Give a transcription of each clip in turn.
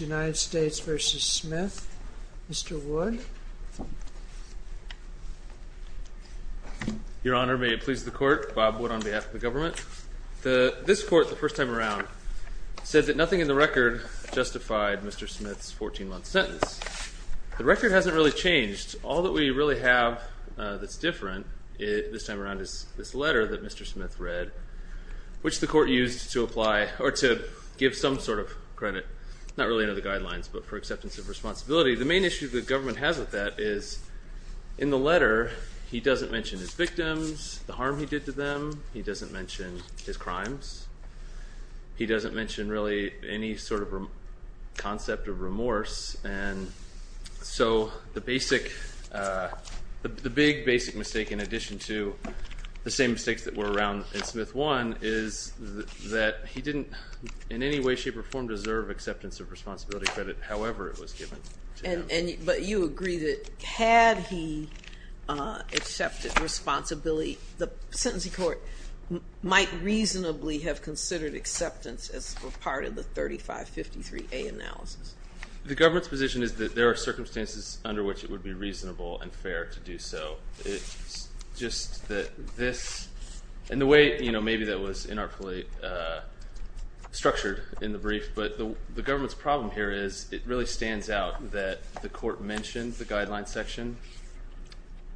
United States v. Smith. Mr. Wood. Your Honor, may it please the Court, Bob Wood on behalf of the government. This Court, the first time around, said that nothing in the record justified Mr. Smith's 14-month sentence. The record hasn't really changed. All that we really have that's different this time around is this letter that Mr. Smith read, which the Court used to apply, or to give some sort of credit, not really under the guidelines, but for acceptance of responsibility. The main issue the government has with that is, in the letter, he doesn't mention his victims, the harm he did to them. He doesn't mention his crimes. He doesn't mention really any sort of concept of remorse. And so the basic, the big basic mistake, in addition to the same mistakes that were around in Smith 1, is that he didn't in any way, shape, or form deserve acceptance of responsibility credit, however it was given to him. But you agree that had he accepted responsibility, the sentencing court might reasonably have considered acceptance as part of the 3553A analysis. The government's position is that there are circumstances under which it would be reasonable and fair to do so. It's just that this, and the way, you know, maybe that was inartfully structured in the brief, but the government's problem here is it really stands out that the Court mentioned the guidelines section,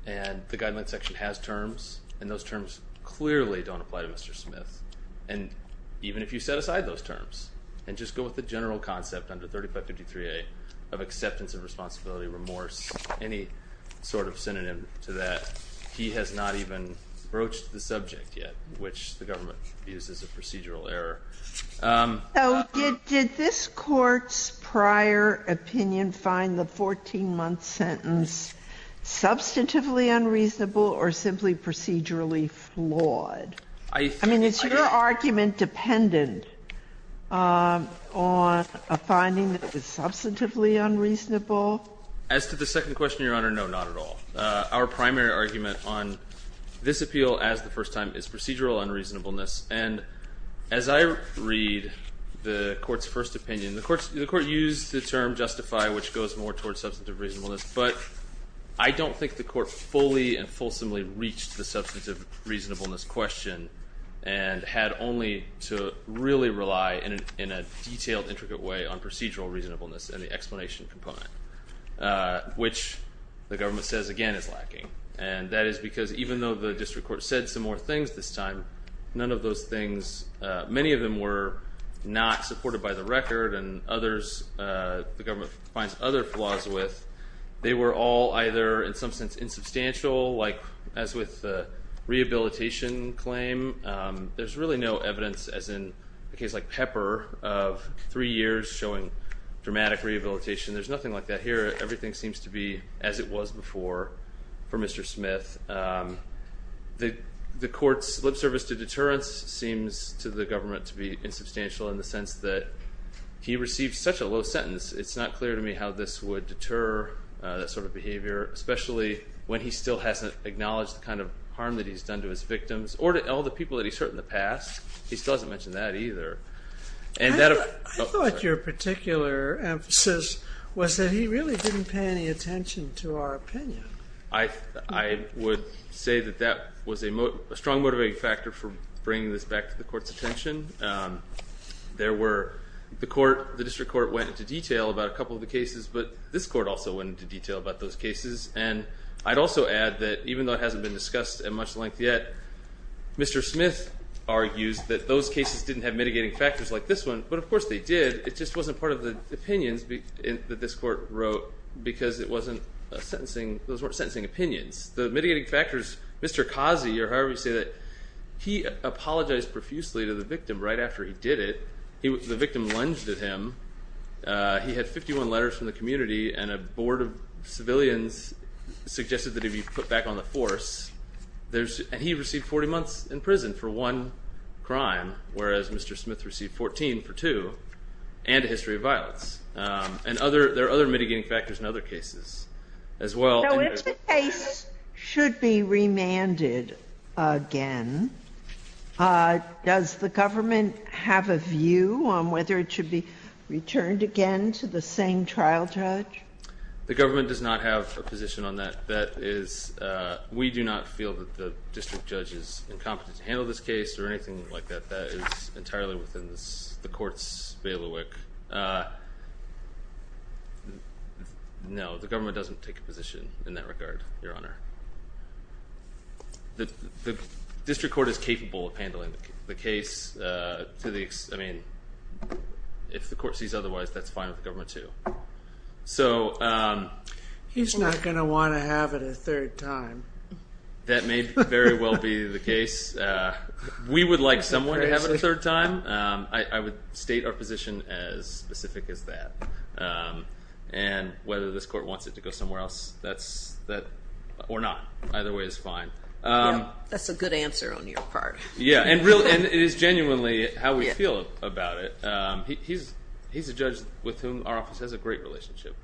and the guidelines section has terms, and those terms clearly don't apply to Mr. Smith. And even if you set aside those terms, and just go with the general concept under 3553A of acceptance of responsibility, remorse, any sort of synonym to that, he has not even broached the subject yet, which the government views as a procedural error. So did this Court's prior opinion find the 14-month sentence substantively unreasonable or simply procedurally flawed? I mean, is your argument dependent on a finding that is substantively unreasonable? As to the second question, Your Honor, no, not at all. Our primary argument on this appeal as the first time is procedural unreasonableness. And as I read the Court's first opinion, the Court used the term justify, which goes more towards substantive reasonableness. But I don't think the Court fully and fulsomely reached the substantive reasonableness question and had only to really rely in a detailed, intricate way on procedural reasonableness and the explanation component, which the government says, again, is lacking. And that is because even though the district court said some more things this time, none of those things, many of them were not supported by the record and others the government finds other flaws with, they were all either in some sense insubstantial, like as with the rehabilitation claim. There's really no evidence, as in a case like Pepper, of three years showing dramatic rehabilitation. There's nothing like that here. Everything seems to be as it was before for Mr. Smith. The Court's lip service to deterrence seems to the government to be insubstantial in the sense that he received such a low sentence, it's not clear to me how this would deter that sort of behavior, especially when he still hasn't acknowledged the kind of harm that he's done to his victims or to all the people that he's hurt in the past. He still hasn't mentioned that either. I thought your particular emphasis was that he really didn't pay any attention to our opinion. I would say that that was a strong motivating factor for bringing this back to the Court's attention. The District Court went into detail about a couple of the cases, but this Court also went into detail about those cases, and I'd also add that even though it hasn't been discussed at much length yet, Mr. Smith argues that those cases didn't have mitigating factors like this one, but of course they did. It just wasn't part of the opinions that this Court wrote because those weren't sentencing opinions. The mitigating factors, Mr. Kazi or however you say that, he apologized profusely to the victim right after he did it. The victim lunged at him. He had 51 letters from the community, and a board of civilians suggested that he be put back on the force. And he received 40 months in prison for one crime, whereas Mr. Smith received 14 for two, and a history of violence. And there are other mitigating factors in other cases as well. The case should be remanded again. Does the government have a view on whether it should be returned again to the same trial judge? The government does not have a position on that. That is, we do not feel that the district judge is incompetent to handle this case or anything like that. That is entirely within the Court's bailiwick. No, the government doesn't take a position in that regard, Your Honor. The district court is capable of handling the case. I mean, if the Court sees otherwise, that's fine with the government too. He's not going to want to have it a third time. That may very well be the case. We would like someone to have it a third time. I would state our position as specific as that. And whether this Court wants it to go somewhere else, or not, either way is fine. That's a good answer on your part. Yeah, and it is genuinely how we feel about it. He's a judge with whom our office has a great relationship.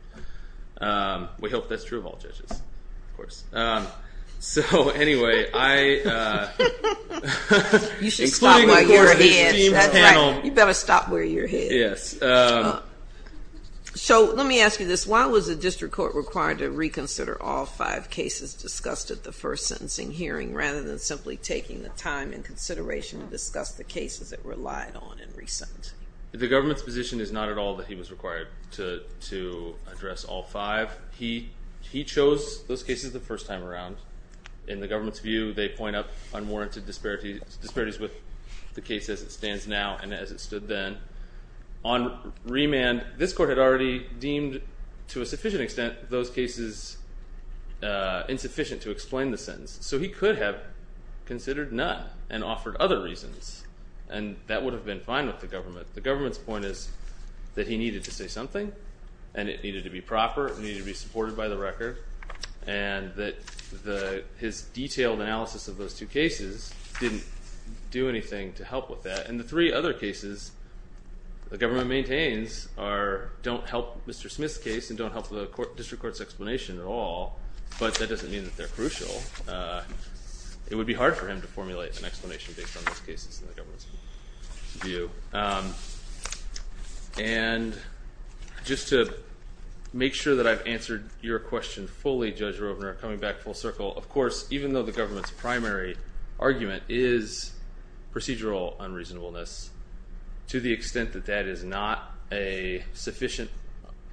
We hope that's true of all judges, of course. So, anyway, I... You should stop wearing your head. That's right. You better stop wearing your head. Yes. So, let me ask you this. Why was the district court required to reconsider all five cases discussed at the first sentencing hearing rather than simply taking the time and consideration to discuss the cases that were lied on in recent? The government's position is not at all that he was required to address all five. He chose those cases the first time around. In the government's view, they point up unwarranted disparities with the case as it stands now and as it stood then. On remand, this Court had already deemed, to a sufficient extent, those cases insufficient to explain the sentence. So he could have considered none and offered other reasons, and that would have been fine with the government. The government's point is that he needed to say something, and it needed to be proper, it needed to be supported by the record, and that his detailed analysis of those two cases didn't do anything to help with that. And the three other cases the government maintains don't help Mr. Smith's case and don't help the district court's explanation at all, but that doesn't mean that they're crucial. It would be hard for him to formulate an explanation based on those cases in the government's view. And just to make sure that I've answered your question fully, Judge Rovner, coming back full circle, of course, even though the government's primary argument is procedural unreasonableness, to the extent that that is not a sufficient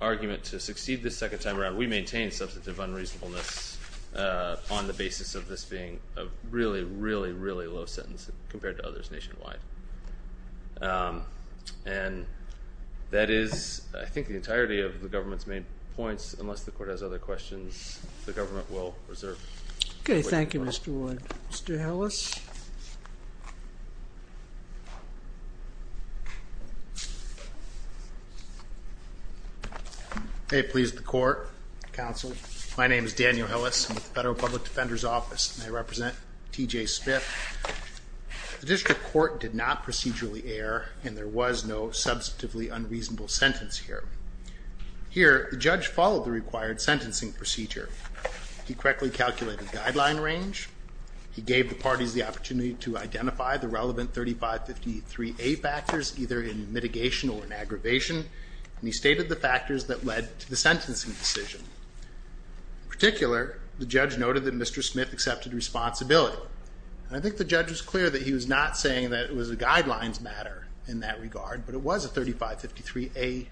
argument to succeed the second time around, we maintain substantive unreasonableness on the basis of this being a really, really, really low sentence compared to others nationwide. And that is, I think, the entirety of the government's main points. Unless the Court has other questions, the government will reserve. Okay. Thank you, Mr. Wood. Mr. Ellis? May it please the Court, Counsel, my name is Daniel Ellis. I'm with the Federal Public Defender's Office, and I represent T.J. Smith. The district court did not procedurally err, and there was no substantively unreasonable sentence here. Here, the judge followed the required sentencing procedure. He correctly calculated guideline range. He gave the parties the opportunity to identify the relevant 3553A factors, either in mitigation or in aggravation, and he stated the factors that led to the sentencing decision. In particular, the judge noted that Mr. Smith accepted responsibility. I think the judge was clear that he was not saying that it was a guidelines matter in that regard, but it was a 3553A1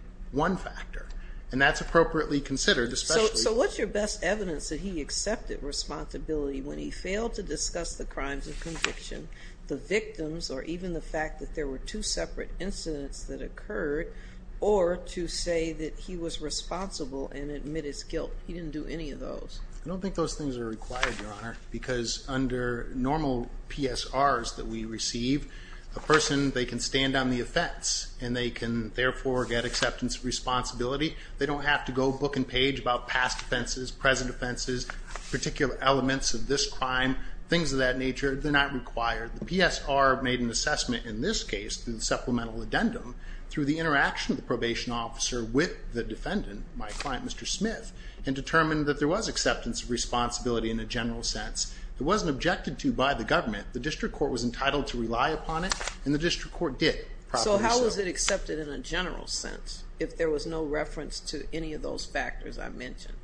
factor, and that's appropriately considered, especially... the evidence that he accepted responsibility when he failed to discuss the crimes of conviction, the victims, or even the fact that there were two separate incidents that occurred, or to say that he was responsible and admit his guilt. He didn't do any of those. I don't think those things are required, Your Honor, because under normal PSRs that we receive, a person, they can stand on the offense, and they can, therefore, get acceptance of responsibility. They don't have to go book and page about past offenses, present offenses, particular elements of this crime, things of that nature. They're not required. The PSR made an assessment in this case through the supplemental addendum through the interaction of the probation officer with the defendant, my client, Mr. Smith, and determined that there was acceptance of responsibility in a general sense. It wasn't objected to by the government. The district court was entitled to rely upon it, and the district court did. So how was it accepted in a general sense if there was no reference to any of those factors I mentioned?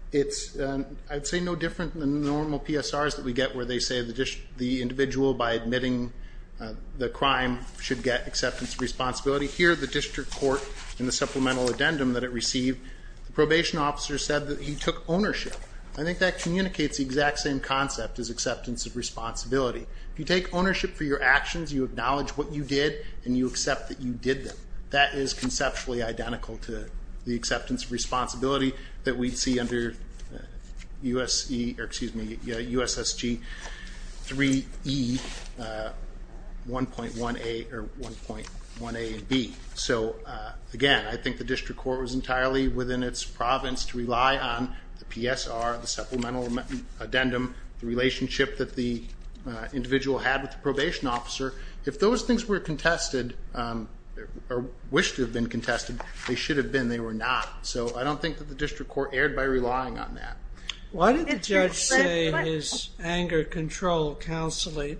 I'd say no different than normal PSRs that we get where they say the individual, by admitting the crime, should get acceptance of responsibility. Here, the district court, in the supplemental addendum that it received, the probation officer said that he took ownership. I think that communicates the exact same concept as acceptance of responsibility. If you take ownership for your actions, you acknowledge what you did, and you accept that you did them, that is conceptually identical to the acceptance of responsibility that we see under USSG 3E 1.1a or 1.1a and b. So, again, I think the district court was entirely within its province to rely on the PSR, the supplemental addendum, the relationship that the individual had with the probation officer. If those things were contested or wished to have been contested, they should have been. They were not. So I don't think that the district court erred by relying on that. Why did the judge say his anger control counselee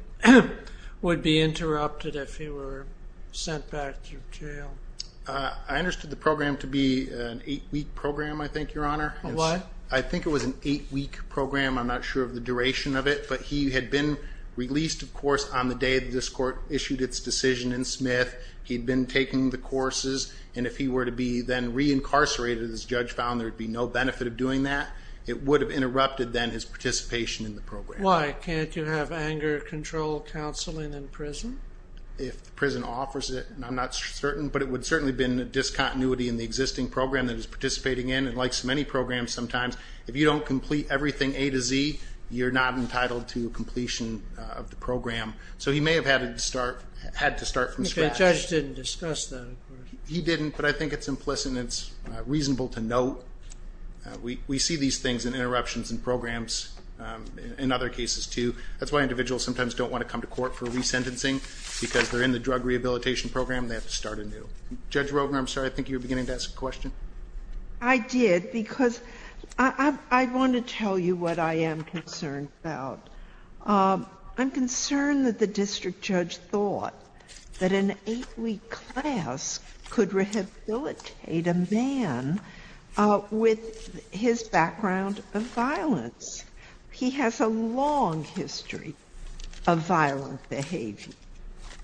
would be interrupted if he were sent back to jail? I understood the program to be an eight-week program, I think, Your Honor. A what? I think it was an eight-week program. I'm not sure of the duration of it. But he had been released, of course, on the day that this court issued its decision in Smith. He had been taking the courses. And if he were to be then reincarcerated, as the judge found there would be no benefit of doing that, it would have interrupted then his participation in the program. Why can't you have anger control counseling in prison? If the prison offers it, I'm not certain. But it would certainly have been a discontinuity in the existing program that he was participating in. And like so many programs sometimes, if you don't complete everything A to Z, you're not entitled to completion of the program. So he may have had to start from scratch. Okay, the judge didn't discuss that, of course. He didn't, but I think it's implicit and it's reasonable to note. We see these things in interruptions in programs in other cases, too. That's why individuals sometimes don't want to come to court for resentencing, because they're in the drug rehabilitation program and they have to start anew. Judge Rogner, I'm sorry, I think you were beginning to ask a question. I did, because I want to tell you what I am concerned about. I'm concerned that the district judge thought that an eight-week class could rehabilitate a man with his background of violence. He has a long history of violent behavior.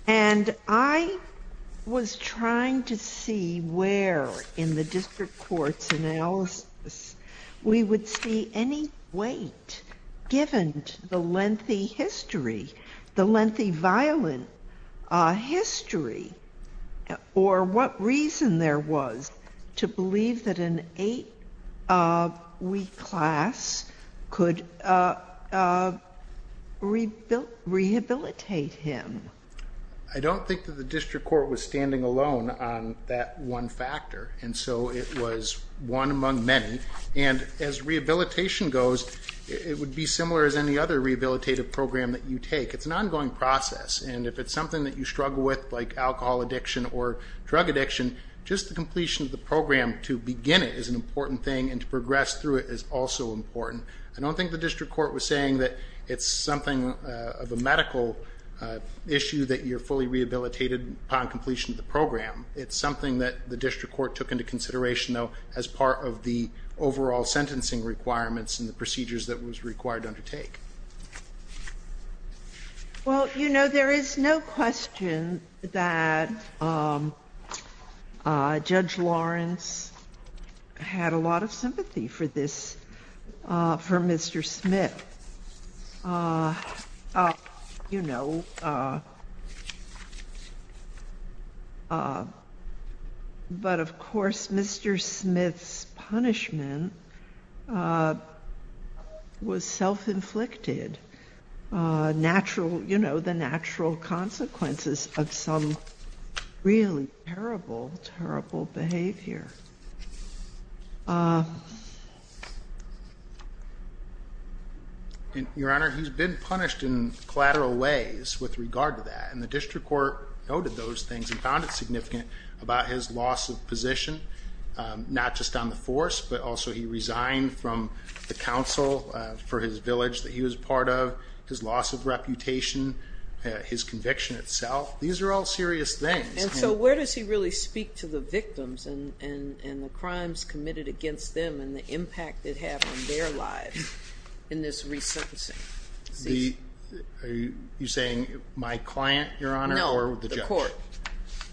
And I was trying to see where in the district court's analysis we would see any weight given to the lengthy history, the lengthy violent history, or what reason there was to believe that an eight-week class could rehabilitate him. I don't think that the district court was standing alone on that one factor, and so it was one among many. And as rehabilitation goes, it would be similar as any other rehabilitative program that you take. It's an ongoing process, and if it's something that you struggle with, like alcohol addiction or drug addiction, just the completion of the program to begin it is an important thing, and to progress through it is also important. I don't think the district court was saying that it's something of a medical issue that you're fully rehabilitated upon completion of the program. It's something that the district court took into consideration, though, as part of the overall sentencing requirements and the procedures that was required to undertake. Well, you know, there is no question that Judge Lawrence had a lot of sympathy for this, for Mr. Smith. But, of course, Mr. Smith's punishment was self-inflicted, you know, the natural consequences of some really terrible, terrible behavior. Your Honor, he's been punished in collateral ways with regard to that, and the district court noted those things and found it significant about his loss of position, not just on the force, but also he resigned from the council for his village that he was part of, his loss of reputation, his conviction itself. These are all serious things. And so where does he really speak to the victims and the crimes committed against them and the impact it had on their lives in this resentencing? Are you saying my client, Your Honor, or the judge? No, the court.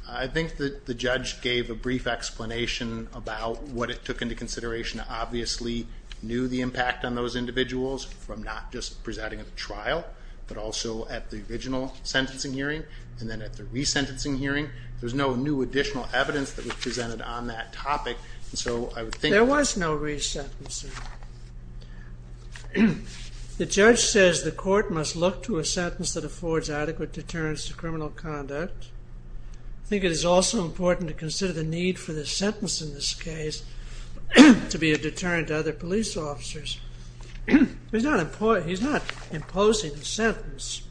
I think that the judge gave a brief explanation about what it took into consideration. Obviously, he knew the impact on those individuals from not just presenting at the trial, but also at the original sentencing hearing and then at the resentencing hearing. There's no new additional evidence that was presented on that topic. There was no resentencing. The judge says the court must look to a sentence that affords adequate deterrence to criminal conduct I think it is also important to consider the need for the sentence in this case to be a deterrent to other police officers. He's not imposing the sentence.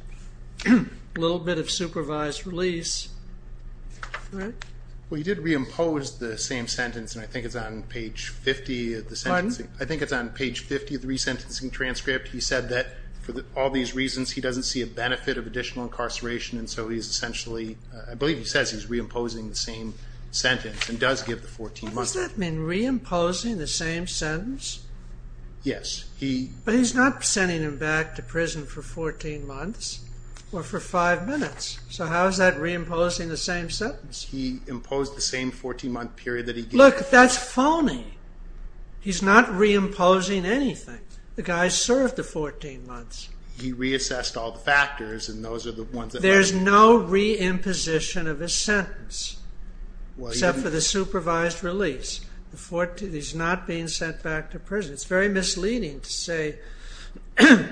A little bit of supervised release. Well, he did reimpose the same sentence, and I think it's on page 50 of the sentencing. Pardon? I think it's on page 50 of the resentencing transcript. He said that for all these reasons he doesn't see a benefit of additional incarceration, and so he is essentially, I believe he says he's reimposing the same sentence and does give the 14 months. Does that mean reimposing the same sentence? Yes. But he's not sending him back to prison for 14 months or for five minutes. So how is that reimposing the same sentence? He imposed the same 14-month period that he gave. Look, that's phony. He's not reimposing anything. The guy served the 14 months. He reassessed all the factors, and those are the ones that matter. There's no reimposition of his sentence except for the supervised release. He's not being sent back to prison. It's very misleading to say the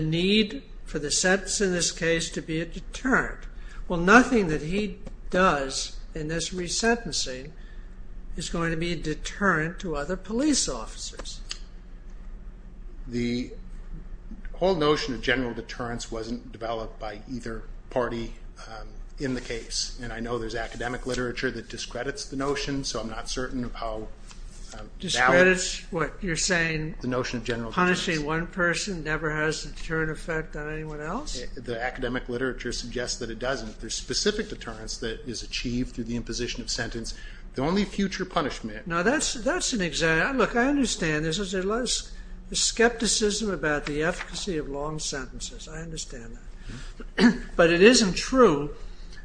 need for the sentence in this case to be a deterrent. Well, nothing that he does in this resentencing is going to be a deterrent to other police officers. The whole notion of general deterrence wasn't developed by either party in the case, and I know there's academic literature that discredits the notion, so I'm not certain of how valid the notion of general deterrence is. Discredits what you're saying, punishing one person never has a deterrent effect on anyone else? The academic literature suggests that it doesn't. There's specific deterrence that is achieved through the imposition of sentence. The only future punishment... Now, that's an example. Look, I understand there's a lot of skepticism about the efficacy of long sentences. I understand that. But it isn't true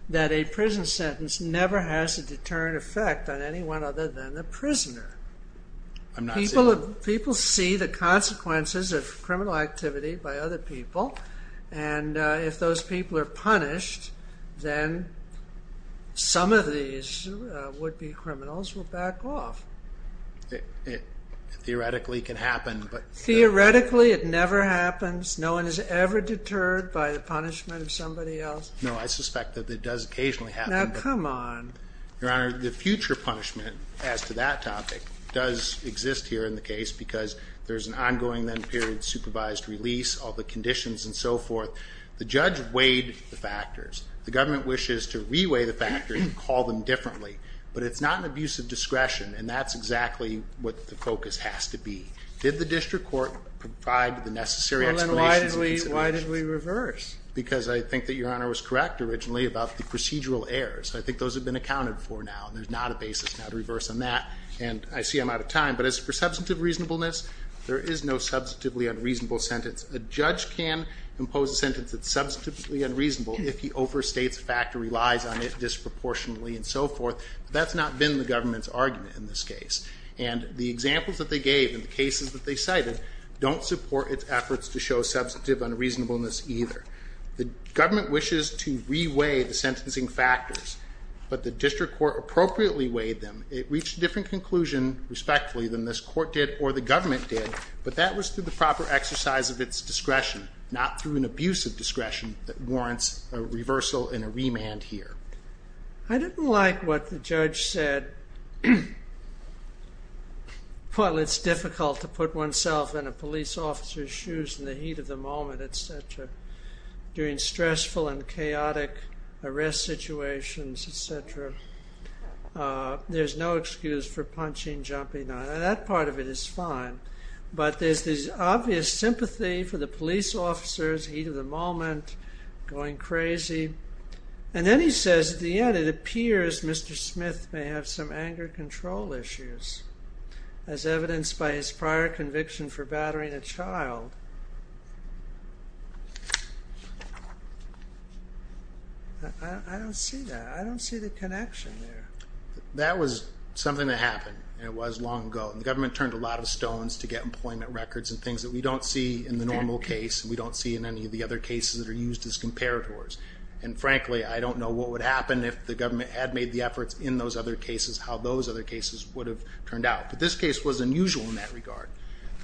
that a prison sentence never has a deterrent effect on anyone other than the prisoner. I'm not saying... People see the consequences of criminal activity by other people, and if those people are punished, then some of these would-be criminals will back off. It theoretically can happen, but... Theoretically it never happens. No one is ever deterred by the punishment of somebody else. No, I suspect that it does occasionally happen. Now, come on. Your Honor, the future punishment as to that topic does exist here in the case because there's an ongoing then period supervised release, all the conditions and so forth. The judge weighed the factors. The government wishes to re-weigh the factors and call them differently. But it's not an abuse of discretion, and that's exactly what the focus has to be. Did the district court provide the necessary explanations... Well, then why did we reverse? Because I think that Your Honor was correct originally about the procedural errors. I think those have been accounted for now, and there's not a basis now to reverse on that. And I see I'm out of time, but as for substantive reasonableness, there is no substantively unreasonable sentence. A judge can impose a sentence that's substantively unreasonable if he overstates the fact or relies on it disproportionately and so forth, but that's not been the government's argument in this case. And the examples that they gave and the cases that they cited don't support its efforts to show substantive unreasonableness either. The government wishes to re-weigh the sentencing factors, but the district court appropriately weighed them. It reached a different conclusion, respectfully, than this court did or the government did, but that was through the proper exercise of its discretion, not through an abuse of discretion that warrants a reversal and a remand here. I didn't like what the judge said. While it's difficult to put oneself in a police officer's shoes in the heat of the moment, etc., during stressful and chaotic arrest situations, etc., there's no excuse for punching, jumping. Now, that part of it is fine, but there's this obvious sympathy for the police officers, heat of the moment, going crazy. And then he says at the end, it appears Mr. Smith may have some anger control issues, as evidenced by his prior conviction for battering a child. I don't see that. I don't see the connection there. That was something that happened, and it was long ago. The government turned a lot of stones to get employment records and things that we don't see in the normal case, and we don't see in any of the other cases that are used as comparators. And frankly, I don't know what would happen if the government had made the efforts in those other cases, But this case was unusual in that regard.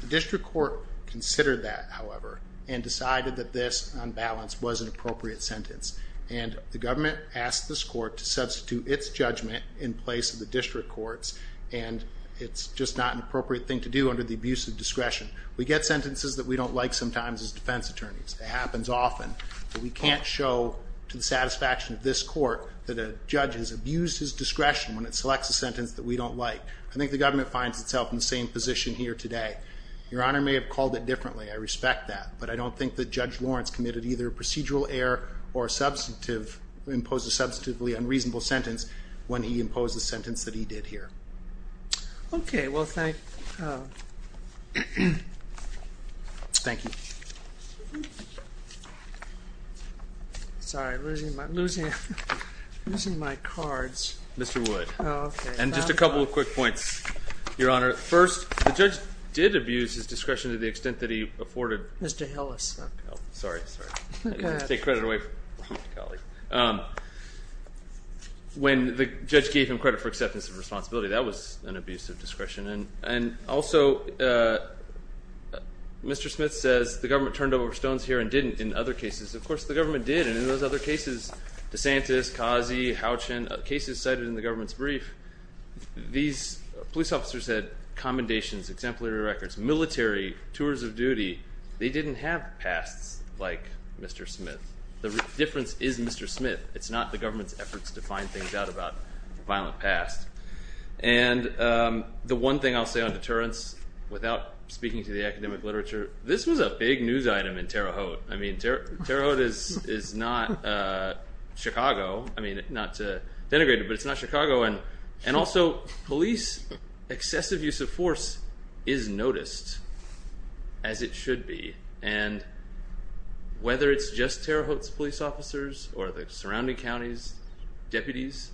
The district court considered that, however, and decided that this, on balance, was an appropriate sentence. And the government asked this court to substitute its judgment in place of the district court's, and it's just not an appropriate thing to do under the abuse of discretion. We get sentences that we don't like sometimes as defense attorneys. It happens often. We can't show to the satisfaction of this court that a judge has abused his discretion when it selects a sentence that we don't like. I think the government finds itself in the same position here today. Your Honor may have called it differently. I respect that, but I don't think that Judge Lawrence committed either a procedural error or imposed a substantively unreasonable sentence when he imposed the sentence that he did here. Okay, well, thank you. Sorry, I'm losing my cards. Mr. Wood. Oh, okay. And just a couple of quick points, Your Honor. First, the judge did abuse his discretion to the extent that he afforded. Mr. Hillis. Oh, sorry, sorry. Go ahead. Take credit away from my colleague. When the judge gave him credit for acceptance and responsibility, that was an abuse of discretion. And also, Mr. Smith says the government turned over stones here and didn't in other cases. Of course, the government did, and in those other cases, DeSantis, Kazi, Houchin, cases cited in the government's brief, these police officers had commendations, exemplary records, military, tours of duty. They didn't have pasts like Mr. Smith. The difference is Mr. Smith. It's not the government's efforts to find things out about violent pasts. And the one thing I'll say on deterrence, without speaking to the academic literature, this was a big news item in Terre Haute. I mean, Terre Haute is not Chicago. I mean, not to denigrate it, but it's not Chicago. And also, police excessive use of force is noticed, as it should be. And whether it's just Terre Haute's police officers or the surrounding counties' deputies,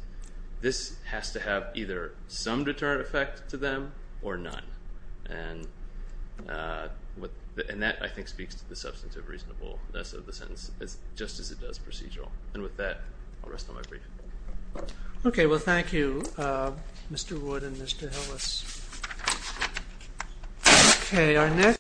this has to have either some deterrent effect to them or none. And that, I think, speaks to the substantive reasonableness of the sentence, just as it does procedural. And with that, I'll rest on my brief. Okay, well, thank you, Mr. Wood and Mr. Hillis.